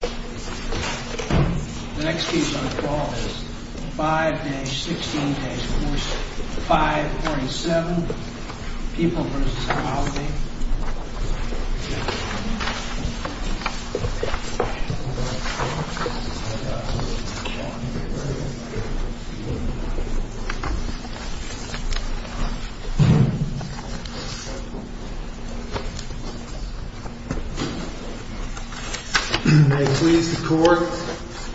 The next piece on the wall is 5-16-4, 5.7, People vs. Quality. May it please the Court,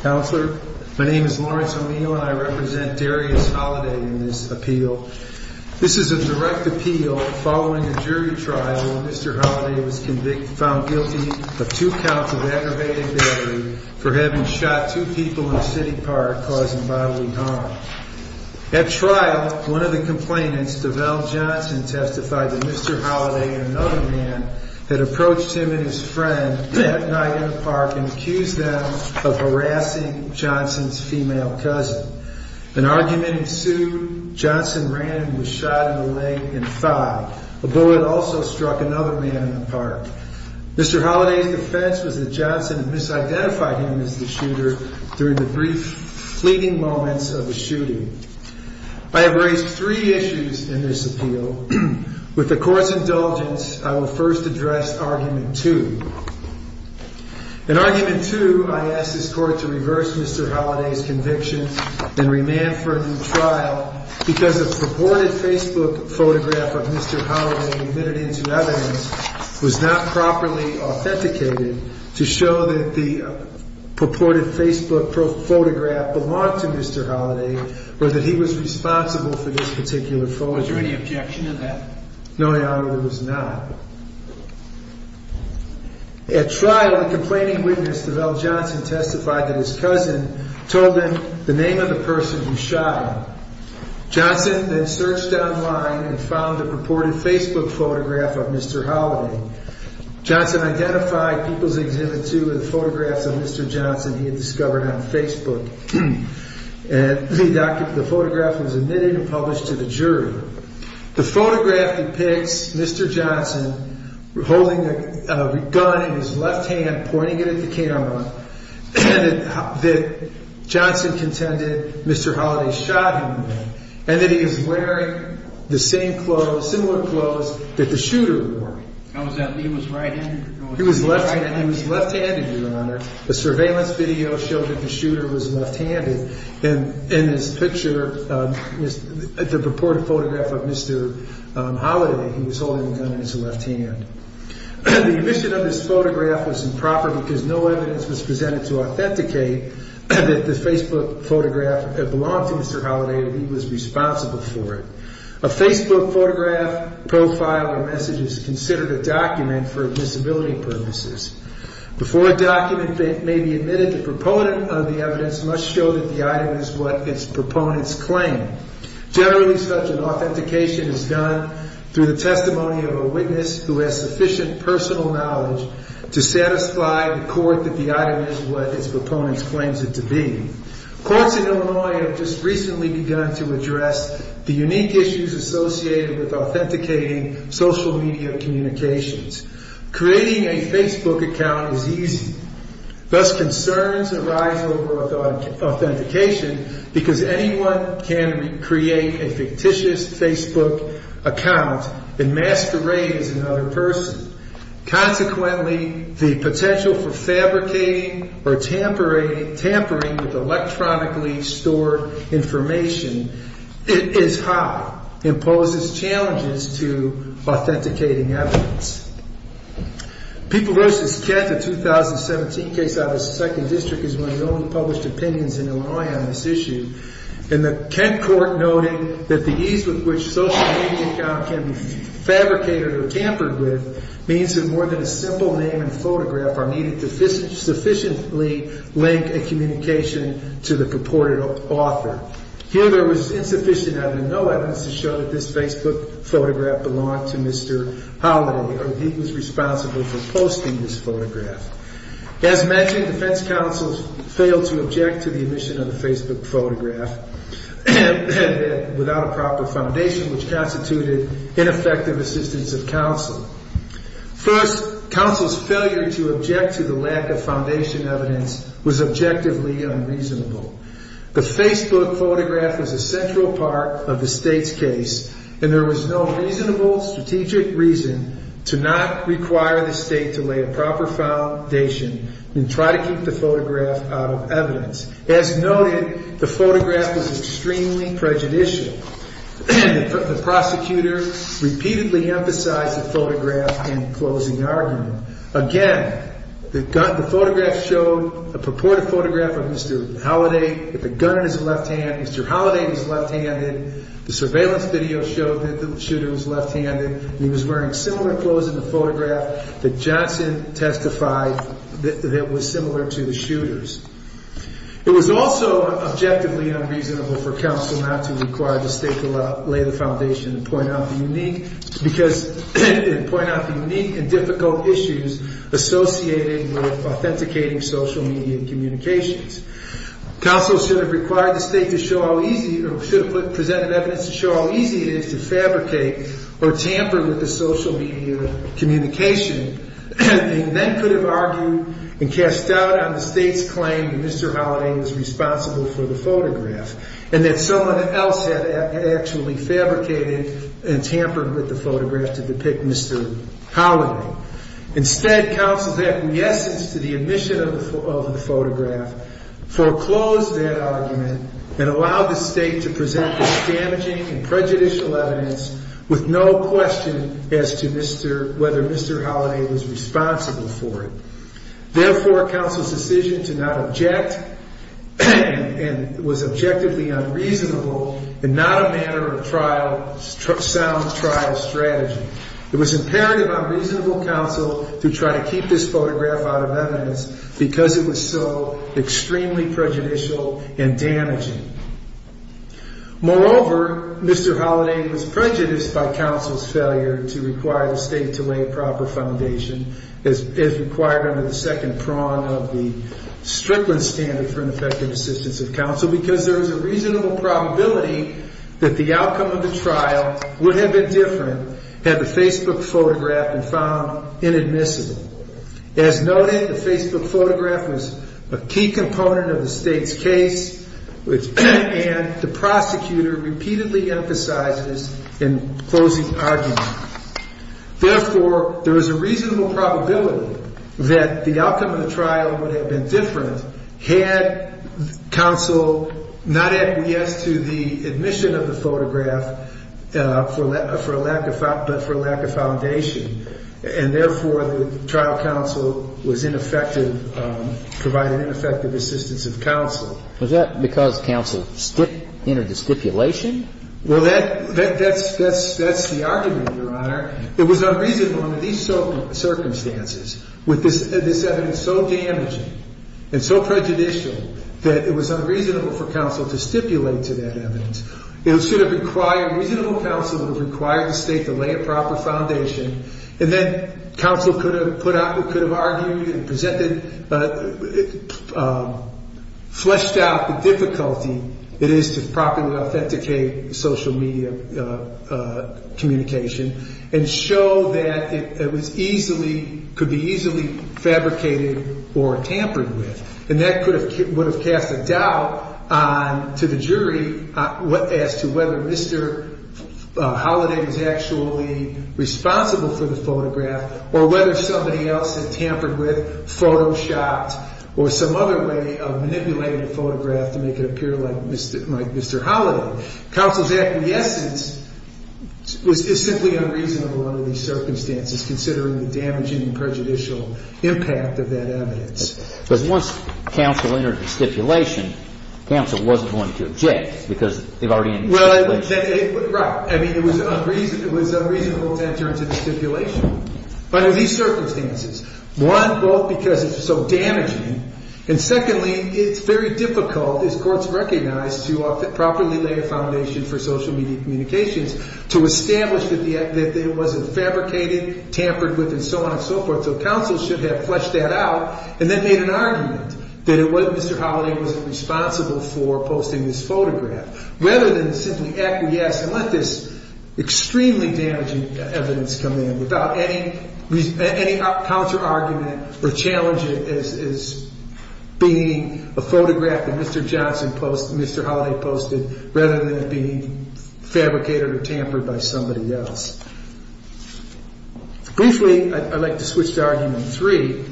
Counselor, my name is Lawrence Amino and I represent Darius Holiday This is a direct appeal following a jury trial where Mr. Holiday was found guilty of two counts of aggravated battery for having shot two people in a city park, causing bodily harm. At trial, one of the complainants, Develle Johnson, testified that Mr. Holiday and another man had approached him and his friend that night in the park and accused them of harassing Johnson's female cousin. An argument ensued. Johnson ran and was shot in the leg and thigh. A bullet also struck another man in the park. Mr. Holiday's defense was that Johnson had misidentified him as the shooter during the brief fleeting moments of the shooting. I have raised three issues in this appeal. With the Court's indulgence, I will first address argument two. In argument two, I ask this Court to reverse Mr. Holiday's conviction and remand for a new trial because a purported Facebook photograph of Mr. Holiday admitted into evidence was not properly authenticated to show that the purported Facebook photograph belonged to Mr. Holiday or that he was responsible for this particular photograph. Was there any objection to that? No, Your Honor, there was not. At trial, the complaining witness, Develle Johnson, testified that his cousin told him the name of the person who shot him. Johnson then searched online and found a purported Facebook photograph of Mr. Holiday. Johnson identified People's Exhibit 2 with photographs of Mr. Johnson he had discovered on Facebook. The photograph was admitted and published to the jury. The photograph depicts Mr. Johnson holding a gun in his left hand, pointing it at the camera, that Johnson contended Mr. Holiday shot him with, and that he was wearing the same clothes, similar clothes that the shooter was wearing. He was right-handed? He was left-handed, Your Honor. A surveillance video showed that the shooter was left-handed, and in this picture, the purported photograph of Mr. Holiday, he was holding the gun in his left hand. The omission of this photograph was improper because no evidence was presented to authenticate that the Facebook photograph belonged to Mr. Holiday and he was responsible for it. A Facebook photograph, profile, or message is considered a document for admissibility purposes. Before a document may be admitted, the proponent of the evidence must show that the item is what its proponents claim. Generally, such an authentication is done through the testimony of a witness who has sufficient personal knowledge to satisfy the court that the item is what its proponents claim it to be. Courts in Illinois have just recently begun to address the unique issues associated with authenticating social media communications. Creating a Facebook account is easy. Thus, concerns arise over authentication because anyone can create a fictitious Facebook account and masquerade as another person. Consequently, the potential for fabricating or tampering with electronically stored information is high and poses challenges to authenticating evidence. People versus Kent, a 2017 case out of the 2nd District, is one of the only published opinions in Illinois on this issue. And the Kent court noted that the ease with which a social media account can be fabricated or tampered with means that more than a simple name and photograph are needed to sufficiently link a communication to the purported author. Here, there was insufficient evidence, no evidence to show that this Facebook photograph belonged to Mr. Holiday and he was responsible for posting this photograph. As mentioned, defense counsels failed to object to the omission of the Facebook photograph without a proper foundation, which constituted ineffective assistance of counsel. First, counsel's failure to object to the lack of foundation evidence was objectively unreasonable. The Facebook photograph was a central part of the State's case and there was no reasonable strategic reason to not require the State to lay a proper foundation and try to keep the photograph out of evidence. As noted, the photograph was extremely prejudicial. The prosecutor repeatedly emphasized the photograph in closing argument. Again, the photograph showed a purported photograph of Mr. Holiday with a gun in his left hand. Mr. Holiday was left-handed. The surveillance video showed that the shooter was left-handed. He was wearing similar clothes in the photograph that Johnson testified that was similar to the shooter's. It was also objectively unreasonable for counsel not to require the State to lay the foundation and point out the unique and difficult issues associated with authenticating social media communications. Counsel should have required the State to show how easy or should have presented evidence to show how easy it is to fabricate or tamper with the social media communication and then could have argued and cast doubt on the State's claim that Mr. Holiday was responsible for the photograph and that someone else had actually fabricated and tampered with the photograph to depict Mr. Holiday. Instead, counsel's acquiescence to the admission of the photograph foreclosed that argument and allowed the State to present this damaging and prejudicial evidence with no question as to whether Mr. Holiday was responsible for it. Therefore, counsel's decision to not object and was objectively unreasonable and not a manner of trial, sound trial strategy. It was imperative on reasonable counsel to try to keep this photograph out of evidence because it was so extremely prejudicial and damaging. Moreover, Mr. Holiday was prejudiced by counsel's failure to require the State to lay a proper foundation as required under the second prong of the Strickland standard for an effective assistance of counsel because there is a reasonable probability that the outcome of the trial would have been different had the Facebook photograph been found inadmissible. As noted, the Facebook photograph was a key component of the State's case and the prosecutor repeatedly emphasizes in closing arguments. Therefore, there is a reasonable probability that the outcome of the trial would have been different had counsel not added yes to the admission of the photograph for a lack of foundation. And therefore, the trial counsel was ineffective, provided ineffective assistance of counsel. Was that because counsel stripped in a stipulation? Well, that's the argument, Your Honor. It was unreasonable under these circumstances with this evidence so damaging and so prejudicial that it was unreasonable for counsel to stipulate to that evidence. It should have required reasonable counsel to require the State to lay a proper foundation. And then counsel could have put out, could have argued and presented, fleshed out the difficulty it is to properly authenticate social media communication and show that it was easily, could be easily fabricated or tampered with. And that could have, would have cast a doubt to the jury as to whether Mr. Holiday was actually responsible for the photograph or whether somebody else had tampered with, photoshopped or some other way of manipulating the photograph to make it appear like Mr. Holiday. Counsel's acquiescence is simply unreasonable under these circumstances considering the damaging and prejudicial impact of that evidence. Because once counsel entered the stipulation, counsel wasn't willing to object because they've already entered the stipulation. Well, right. I mean, it was unreasonable to enter into the stipulation. But under these circumstances, one, both because it's so damaging, and secondly, it's very difficult, as courts recognize, to properly lay a foundation for social media communications to establish that it wasn't fabricated, tampered with, and so on and so forth. So counsel should have fleshed that out and then made an argument that it wasn't, Mr. Holiday wasn't responsible for posting this photograph. Rather than simply acquiesce and let this extremely damaging evidence come in without any counter-argument or challenge it as being a photograph that Mr. Johnson posted, Mr. Holiday posted, rather than it being fabricated or tampered by somebody else. Briefly, I'd like to switch to argument three.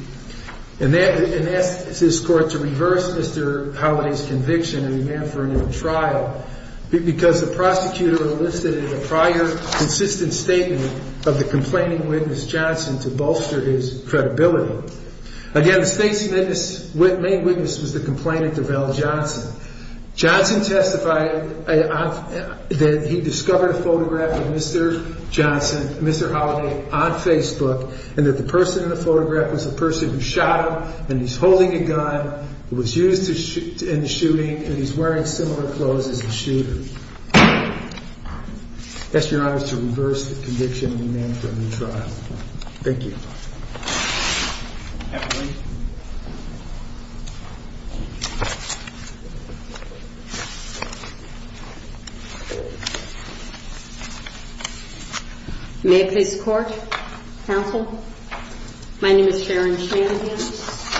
And that's his court to reverse Mr. Holiday's conviction and demand for a new trial because the prosecutor enlisted in a prior consistent statement of the complaining witness, Johnson, to bolster his credibility. Again, the main witness was the complainant of Al Johnson. Johnson testified that he discovered a photograph of Mr. Johnson, Mr. Holiday, on Facebook, and that the person in the photograph was the person who shot him, and he's holding a gun, was used in the shooting, and he's wearing similar clothes as the shooter. I ask your honors to reverse the conviction and demand for a new trial. Thank you. May I please? May I please court, counsel? My name is Sharon Shanahan,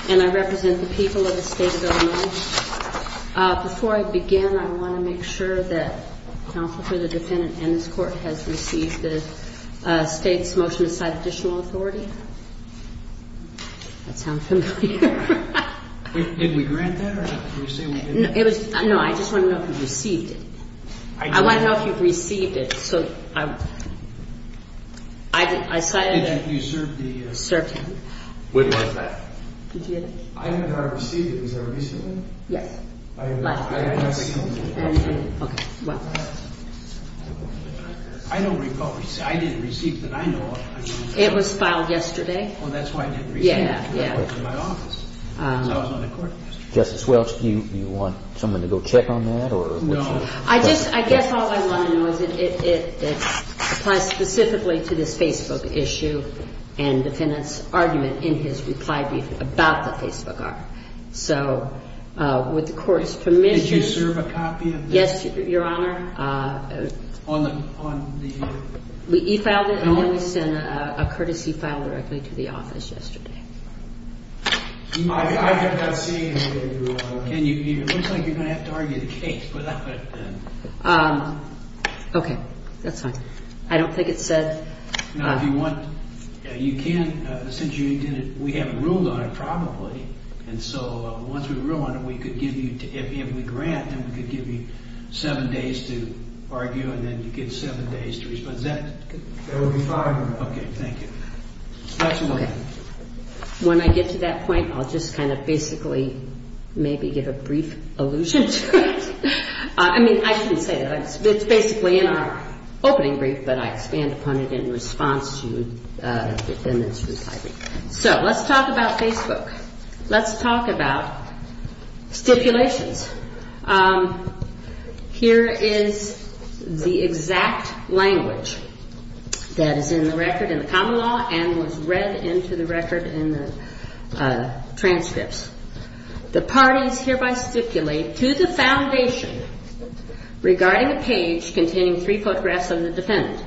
and I represent the people of the state of Illinois. Before I begin, I want to make sure that counsel for the defendant in this court has received the state's motion to cite additional authority. That sounds familiar. Did we grant that? No, I just want to know if you received it. I want to know if you received it. So I cited it. You served the? Served him. When was that? Did you get it? I received it. Was that recently? Yes. I didn't receive it, but I know of it. It was filed yesterday? Oh, that's why I didn't receive it. Yeah, yeah. It was in my office. So I was not in court yesterday. Justice Welch, do you want someone to go check on that? No. I guess all I want to know is it applies specifically to this Facebook issue and defendant's argument in his reply brief about the Facebook art. So would the court's permission? Did you serve a copy of this? Yes, Your Honor. On the? We e-filed it and only sent a courtesy file directly to the office yesterday. I have not seen it, Your Honor. It looks like you're going to have to argue the case without it then. Okay. That's fine. I don't think it said? No, if you want, you can. Since you didn't, we haven't ruled on it probably. And so once we rule on it, we could give you, if we grant, then we could give you seven days to argue and then you get seven days to respond. Is that? There will be five minutes. Okay. Thank you. Okay. When I get to that point, I'll just kind of basically maybe give a brief allusion to it. I mean, I shouldn't say that. It's basically in our opening brief, but I expand upon it in response to the defendant's reply brief. So let's talk about Facebook. Let's talk about stipulations. Here is the exact language that is in the record in the common law and was read into the record in the transcripts. The parties hereby stipulate to the foundation regarding a page containing three photographs of the defendant.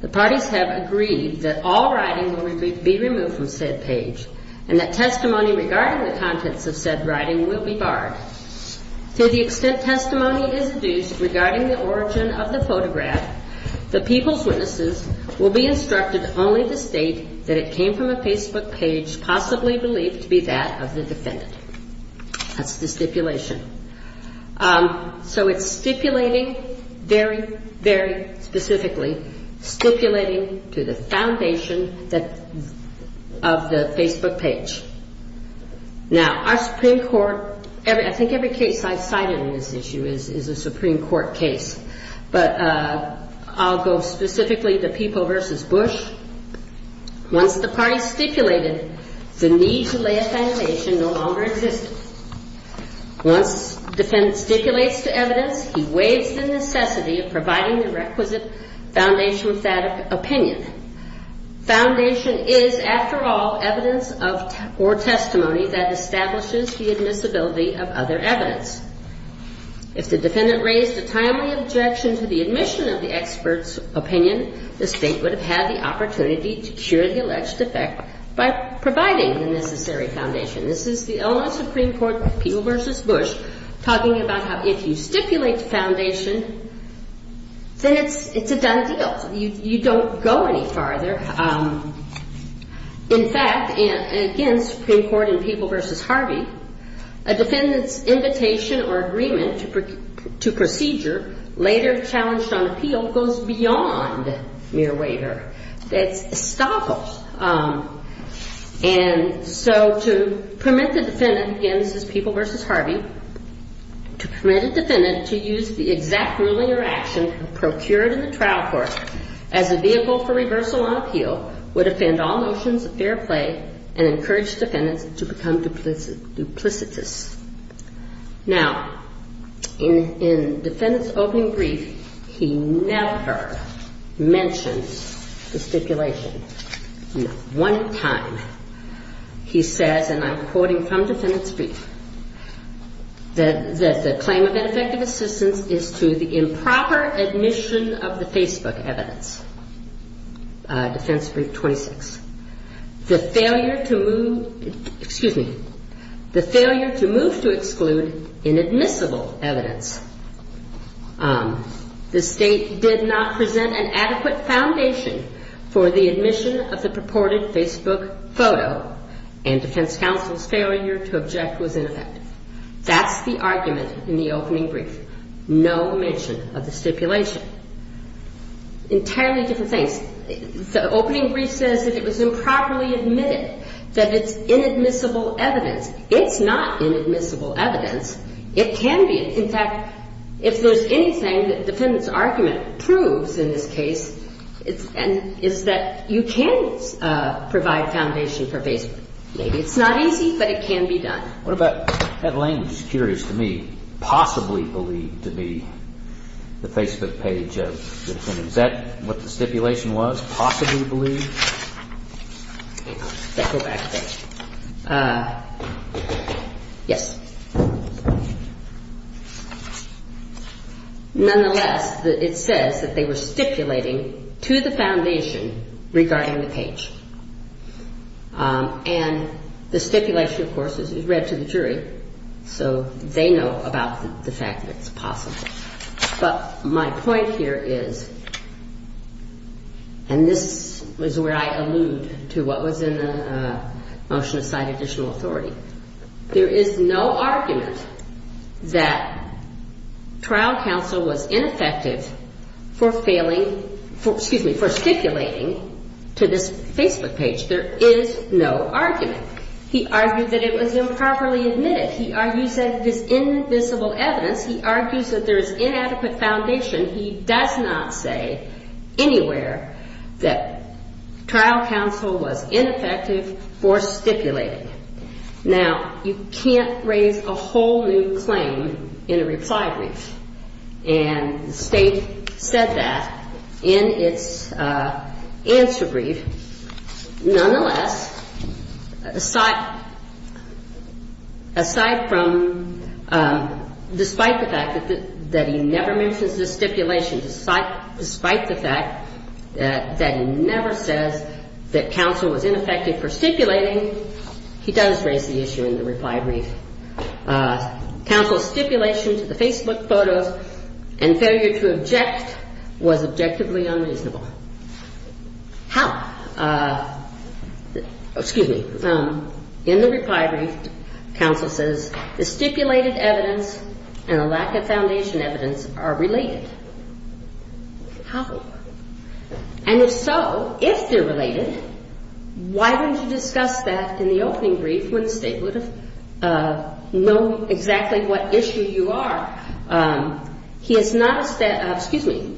The parties have agreed that all writing will be removed from said page and that testimony regarding the contents of said writing will be barred. To the extent testimony is adduced regarding the origin of the photograph, the people's witnesses will be instructed only to state that it came from a Facebook page possibly believed to be that of the defendant. That's the stipulation. So it's stipulating very, very specifically, stipulating to the foundation of the Facebook page. Now, our Supreme Court, I think every case I've cited in this issue is a Supreme Court case, but I'll go specifically to People v. Bush. Once the parties stipulated, the need to lay a foundation no longer existed. Once the defendant stipulates to evidence, he waives the necessity of providing the requisite foundation with that opinion. Foundation is, after all, evidence or testimony that establishes the admissibility of other evidence. If the defendant raised a timely objection to the admission of the expert's opinion, the State would have had the opportunity to cure the alleged defect by providing the necessary foundation. This is the Illinois Supreme Court, People v. Bush, talking about how if you stipulate the foundation, then it's a done deal. You don't go any farther. In fact, again, Supreme Court in People v. Harvey, a defendant's invitation or agreement to procedure, later challenged on appeal, goes beyond mere waiver. It's estoppel. And so to permit the defendant, again, this is People v. Harvey, to permit a defendant to use the exact ruling or action procured in the trial court as a vehicle for reversal on appeal would offend all notions of fair play and encourage defendants to become duplicitous. Now, in the defendant's opening brief, he never mentions the stipulation. Not one time he says, and I'm quoting from defendant's brief, that the claim of ineffective assistance is to the improper admission of the Facebook evidence, defense brief 26, the failure to move, excuse me, the failure to move to exclude inadmissible evidence. The State did not present an adequate foundation for the admission of the purported Facebook photo and defense counsel's failure to object was ineffective. That's the argument in the opening brief. No mention of the stipulation. Entirely different things. The opening brief says that it was improperly admitted, that it's inadmissible evidence. It's not inadmissible evidence. It can be. In fact, if there's anything that the defendant's argument proves in this case, it's that you can provide foundation for Facebook. Maybe it's not easy, but it can be done. What about that language? It's curious to me. Possibly believed to be the Facebook page of the defendant. Is that what the stipulation was, possibly believed? Did I go back a bit? Yes. Nonetheless, it says that they were stipulating to the foundation regarding the page. And the stipulation, of course, is read to the jury, so they know about the fact that it's possible. But my point here is, and this is where I allude to what was in the motion to cite additional authority, there is no argument that trial counsel was ineffective for failing, excuse me, for stipulating to this Facebook page. There is no argument. He argued that it was improperly admitted. He argues that it is invisible evidence. He argues that there is inadequate foundation. He does not say anywhere that trial counsel was ineffective for stipulating. Now, you can't raise a whole new claim in a reply brief, and the State said that in its answer brief. Nonetheless, aside from, despite the fact that he never mentions this stipulation, despite the fact that he never says that counsel was ineffective for stipulating, he does raise the issue in the reply brief. Counsel's stipulation to the Facebook photos and failure to object was objectively unreasonable. How? Excuse me. In the reply brief, counsel says the stipulated evidence and the lack of foundation evidence are related. How? And if so, if they're related, why wouldn't you discuss that in the opening brief when the State would have known exactly what issue you are? He has not, excuse me,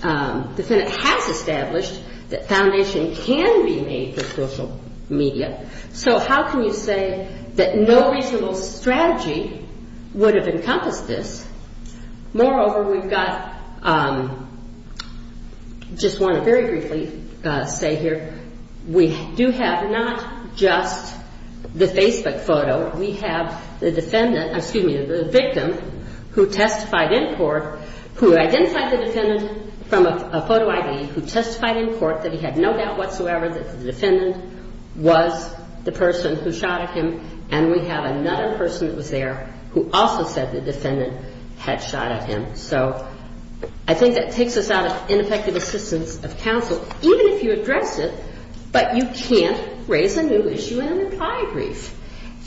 the defendant has established that foundation can be made for social media. So how can you say that no reasonable strategy would have encompassed this? Moreover, we've got, just want to very briefly say here, we do have not just the Facebook photo. We have the defendant, excuse me, the victim who testified in court, who identified the defendant from a photo ID, who testified in court that he had no doubt whatsoever that the defendant was the person who shot at him, and we have another person that was there who also said the defendant had shot at him. So I think that takes us out of ineffective assistance of counsel, even if you address it, but you can't raise a new issue in a reply brief.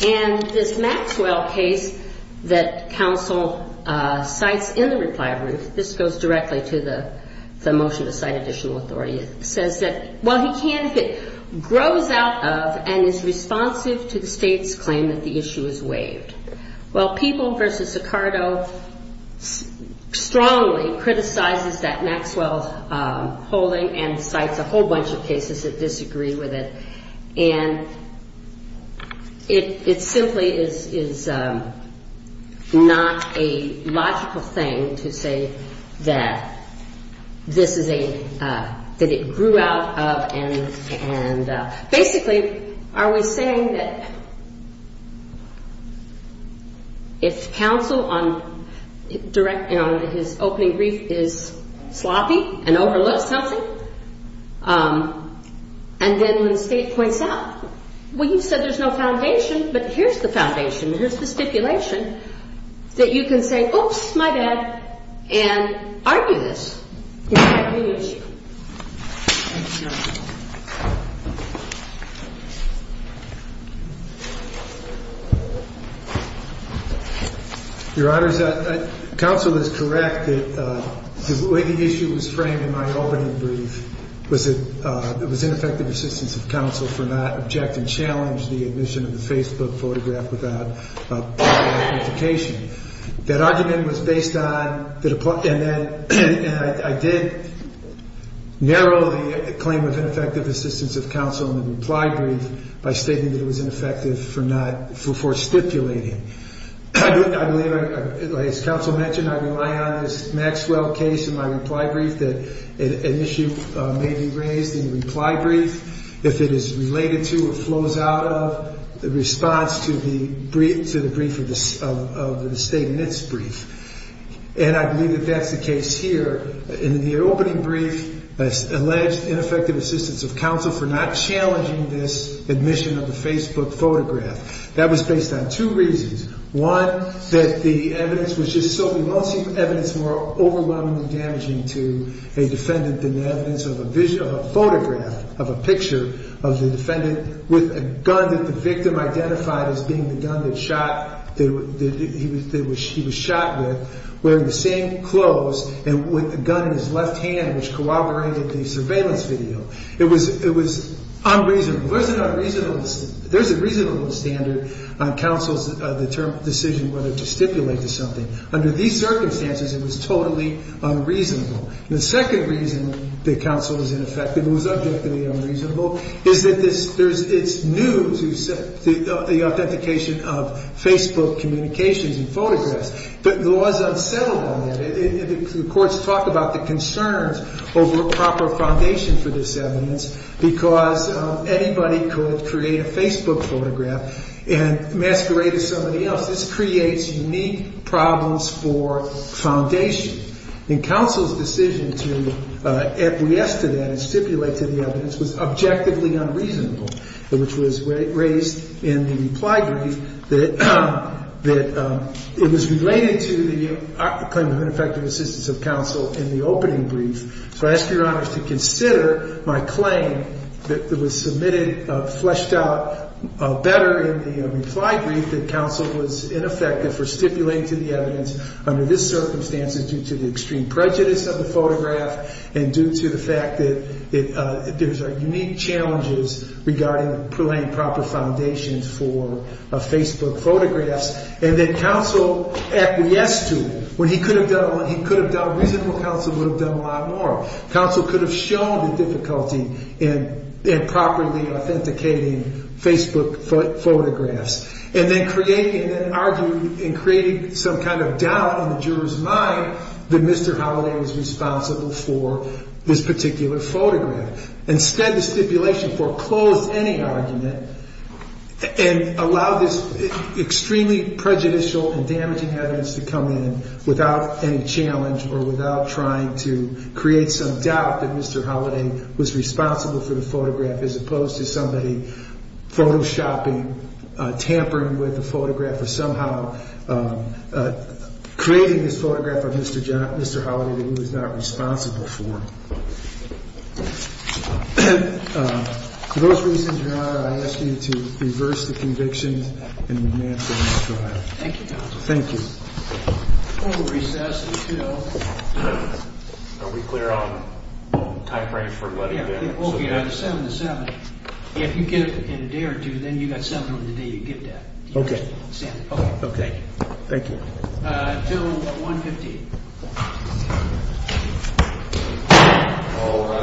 And this Maxwell case that counsel cites in the reply brief, this goes directly to the motion to cite additional authority, says that, well, he can if it grows out of and is responsive to the State's claim that the issue is waived. Well, People v. Sicardo strongly criticizes that Maxwell holding and cites a whole bunch of cases that disagree with it. And it simply is not a logical thing to say that this is a, that it grew out of, and basically are we saying that if counsel on his opening brief is sloppy and overlooks something, and then when the State points out, well, you've said there's no foundation, but here's the foundation, here's the stipulation, that you can say, oops, my bad, and argue this. You can't raise the issue. Thank you, Your Honor. Your Honors, counsel is correct that the way the issue was framed in my opening brief was that it was ineffective assistance of counsel for not objecting challenge to the admission of the Facebook photograph without prior authentication. That argument was based on the, and I did narrow the claim of ineffective assistance of counsel in the reply brief by stating that it was ineffective for not, for stipulating. I believe, as counsel mentioned, I rely on this Maxwell case in my reply brief that an issue may be raised in the reply brief if it is related to or flows out of the response to the brief of the State in its brief. And I believe that that's the case here. In the opening brief, it's alleged ineffective assistance of counsel for not challenging this admission of the Facebook photograph. That was based on two reasons. One, that the evidence was just so, we won't see evidence more overwhelmingly damaging to a defendant than the evidence of a photograph of a picture of the defendant with a gun that the victim identified as being the gun that he was shot with, wearing the same clothes and with a gun in his left hand, which corroborated the surveillance video. It was unreasonable. There's a reasonable standard on counsel's decision whether to stipulate to something. Under these circumstances, it was totally unreasonable. The second reason that counsel was ineffective, it was objectively unreasonable, is that it's news, the authentication of Facebook communications and photographs. But the law is unsettled on that. The courts talk about the concerns over a proper foundation for this evidence because anybody could create a Facebook photograph and masquerade as somebody else. This creates unique problems for foundation. And counsel's decision to acquiesce to that and stipulate to the evidence was objectively unreasonable, which was raised in the reply brief that it was related to the claim of ineffective assistance of counsel in the opening brief. So I ask Your Honors to consider my claim that was submitted, fleshed out better in the reply brief that counsel was ineffective for stipulating to the evidence under these circumstances due to the extreme prejudice of the photograph and due to the fact that there's unique challenges regarding laying proper foundations for Facebook photographs. And that counsel acquiesced to it when he could have done a lot more. Reasonable counsel would have done a lot more. Counsel could have shown the difficulty in properly authenticating Facebook photographs and then created and argued and created some kind of doubt in the juror's mind that Mr. Holliday was responsible for this particular photograph. Instead, the stipulation foreclosed any argument and allowed this extremely prejudicial and damaging evidence to come in without any challenge or without trying to create some doubt that Mr. Holliday was responsible for the photograph as opposed to somebody photoshopping, tampering with the photograph or somehow creating this photograph of Mr. Holliday that he was not responsible for. For those reasons, Your Honor, I ask you to reverse the convictions and remand them in the trial. Thank you, counsel. Thank you. We'll recess until... Are we clear on type right for letting in? Yeah. Okay, on the 7 to 7. If you get it in a day or two, then you got 7 on the day you get that. Okay. Okay. Thank you. Until 1.15.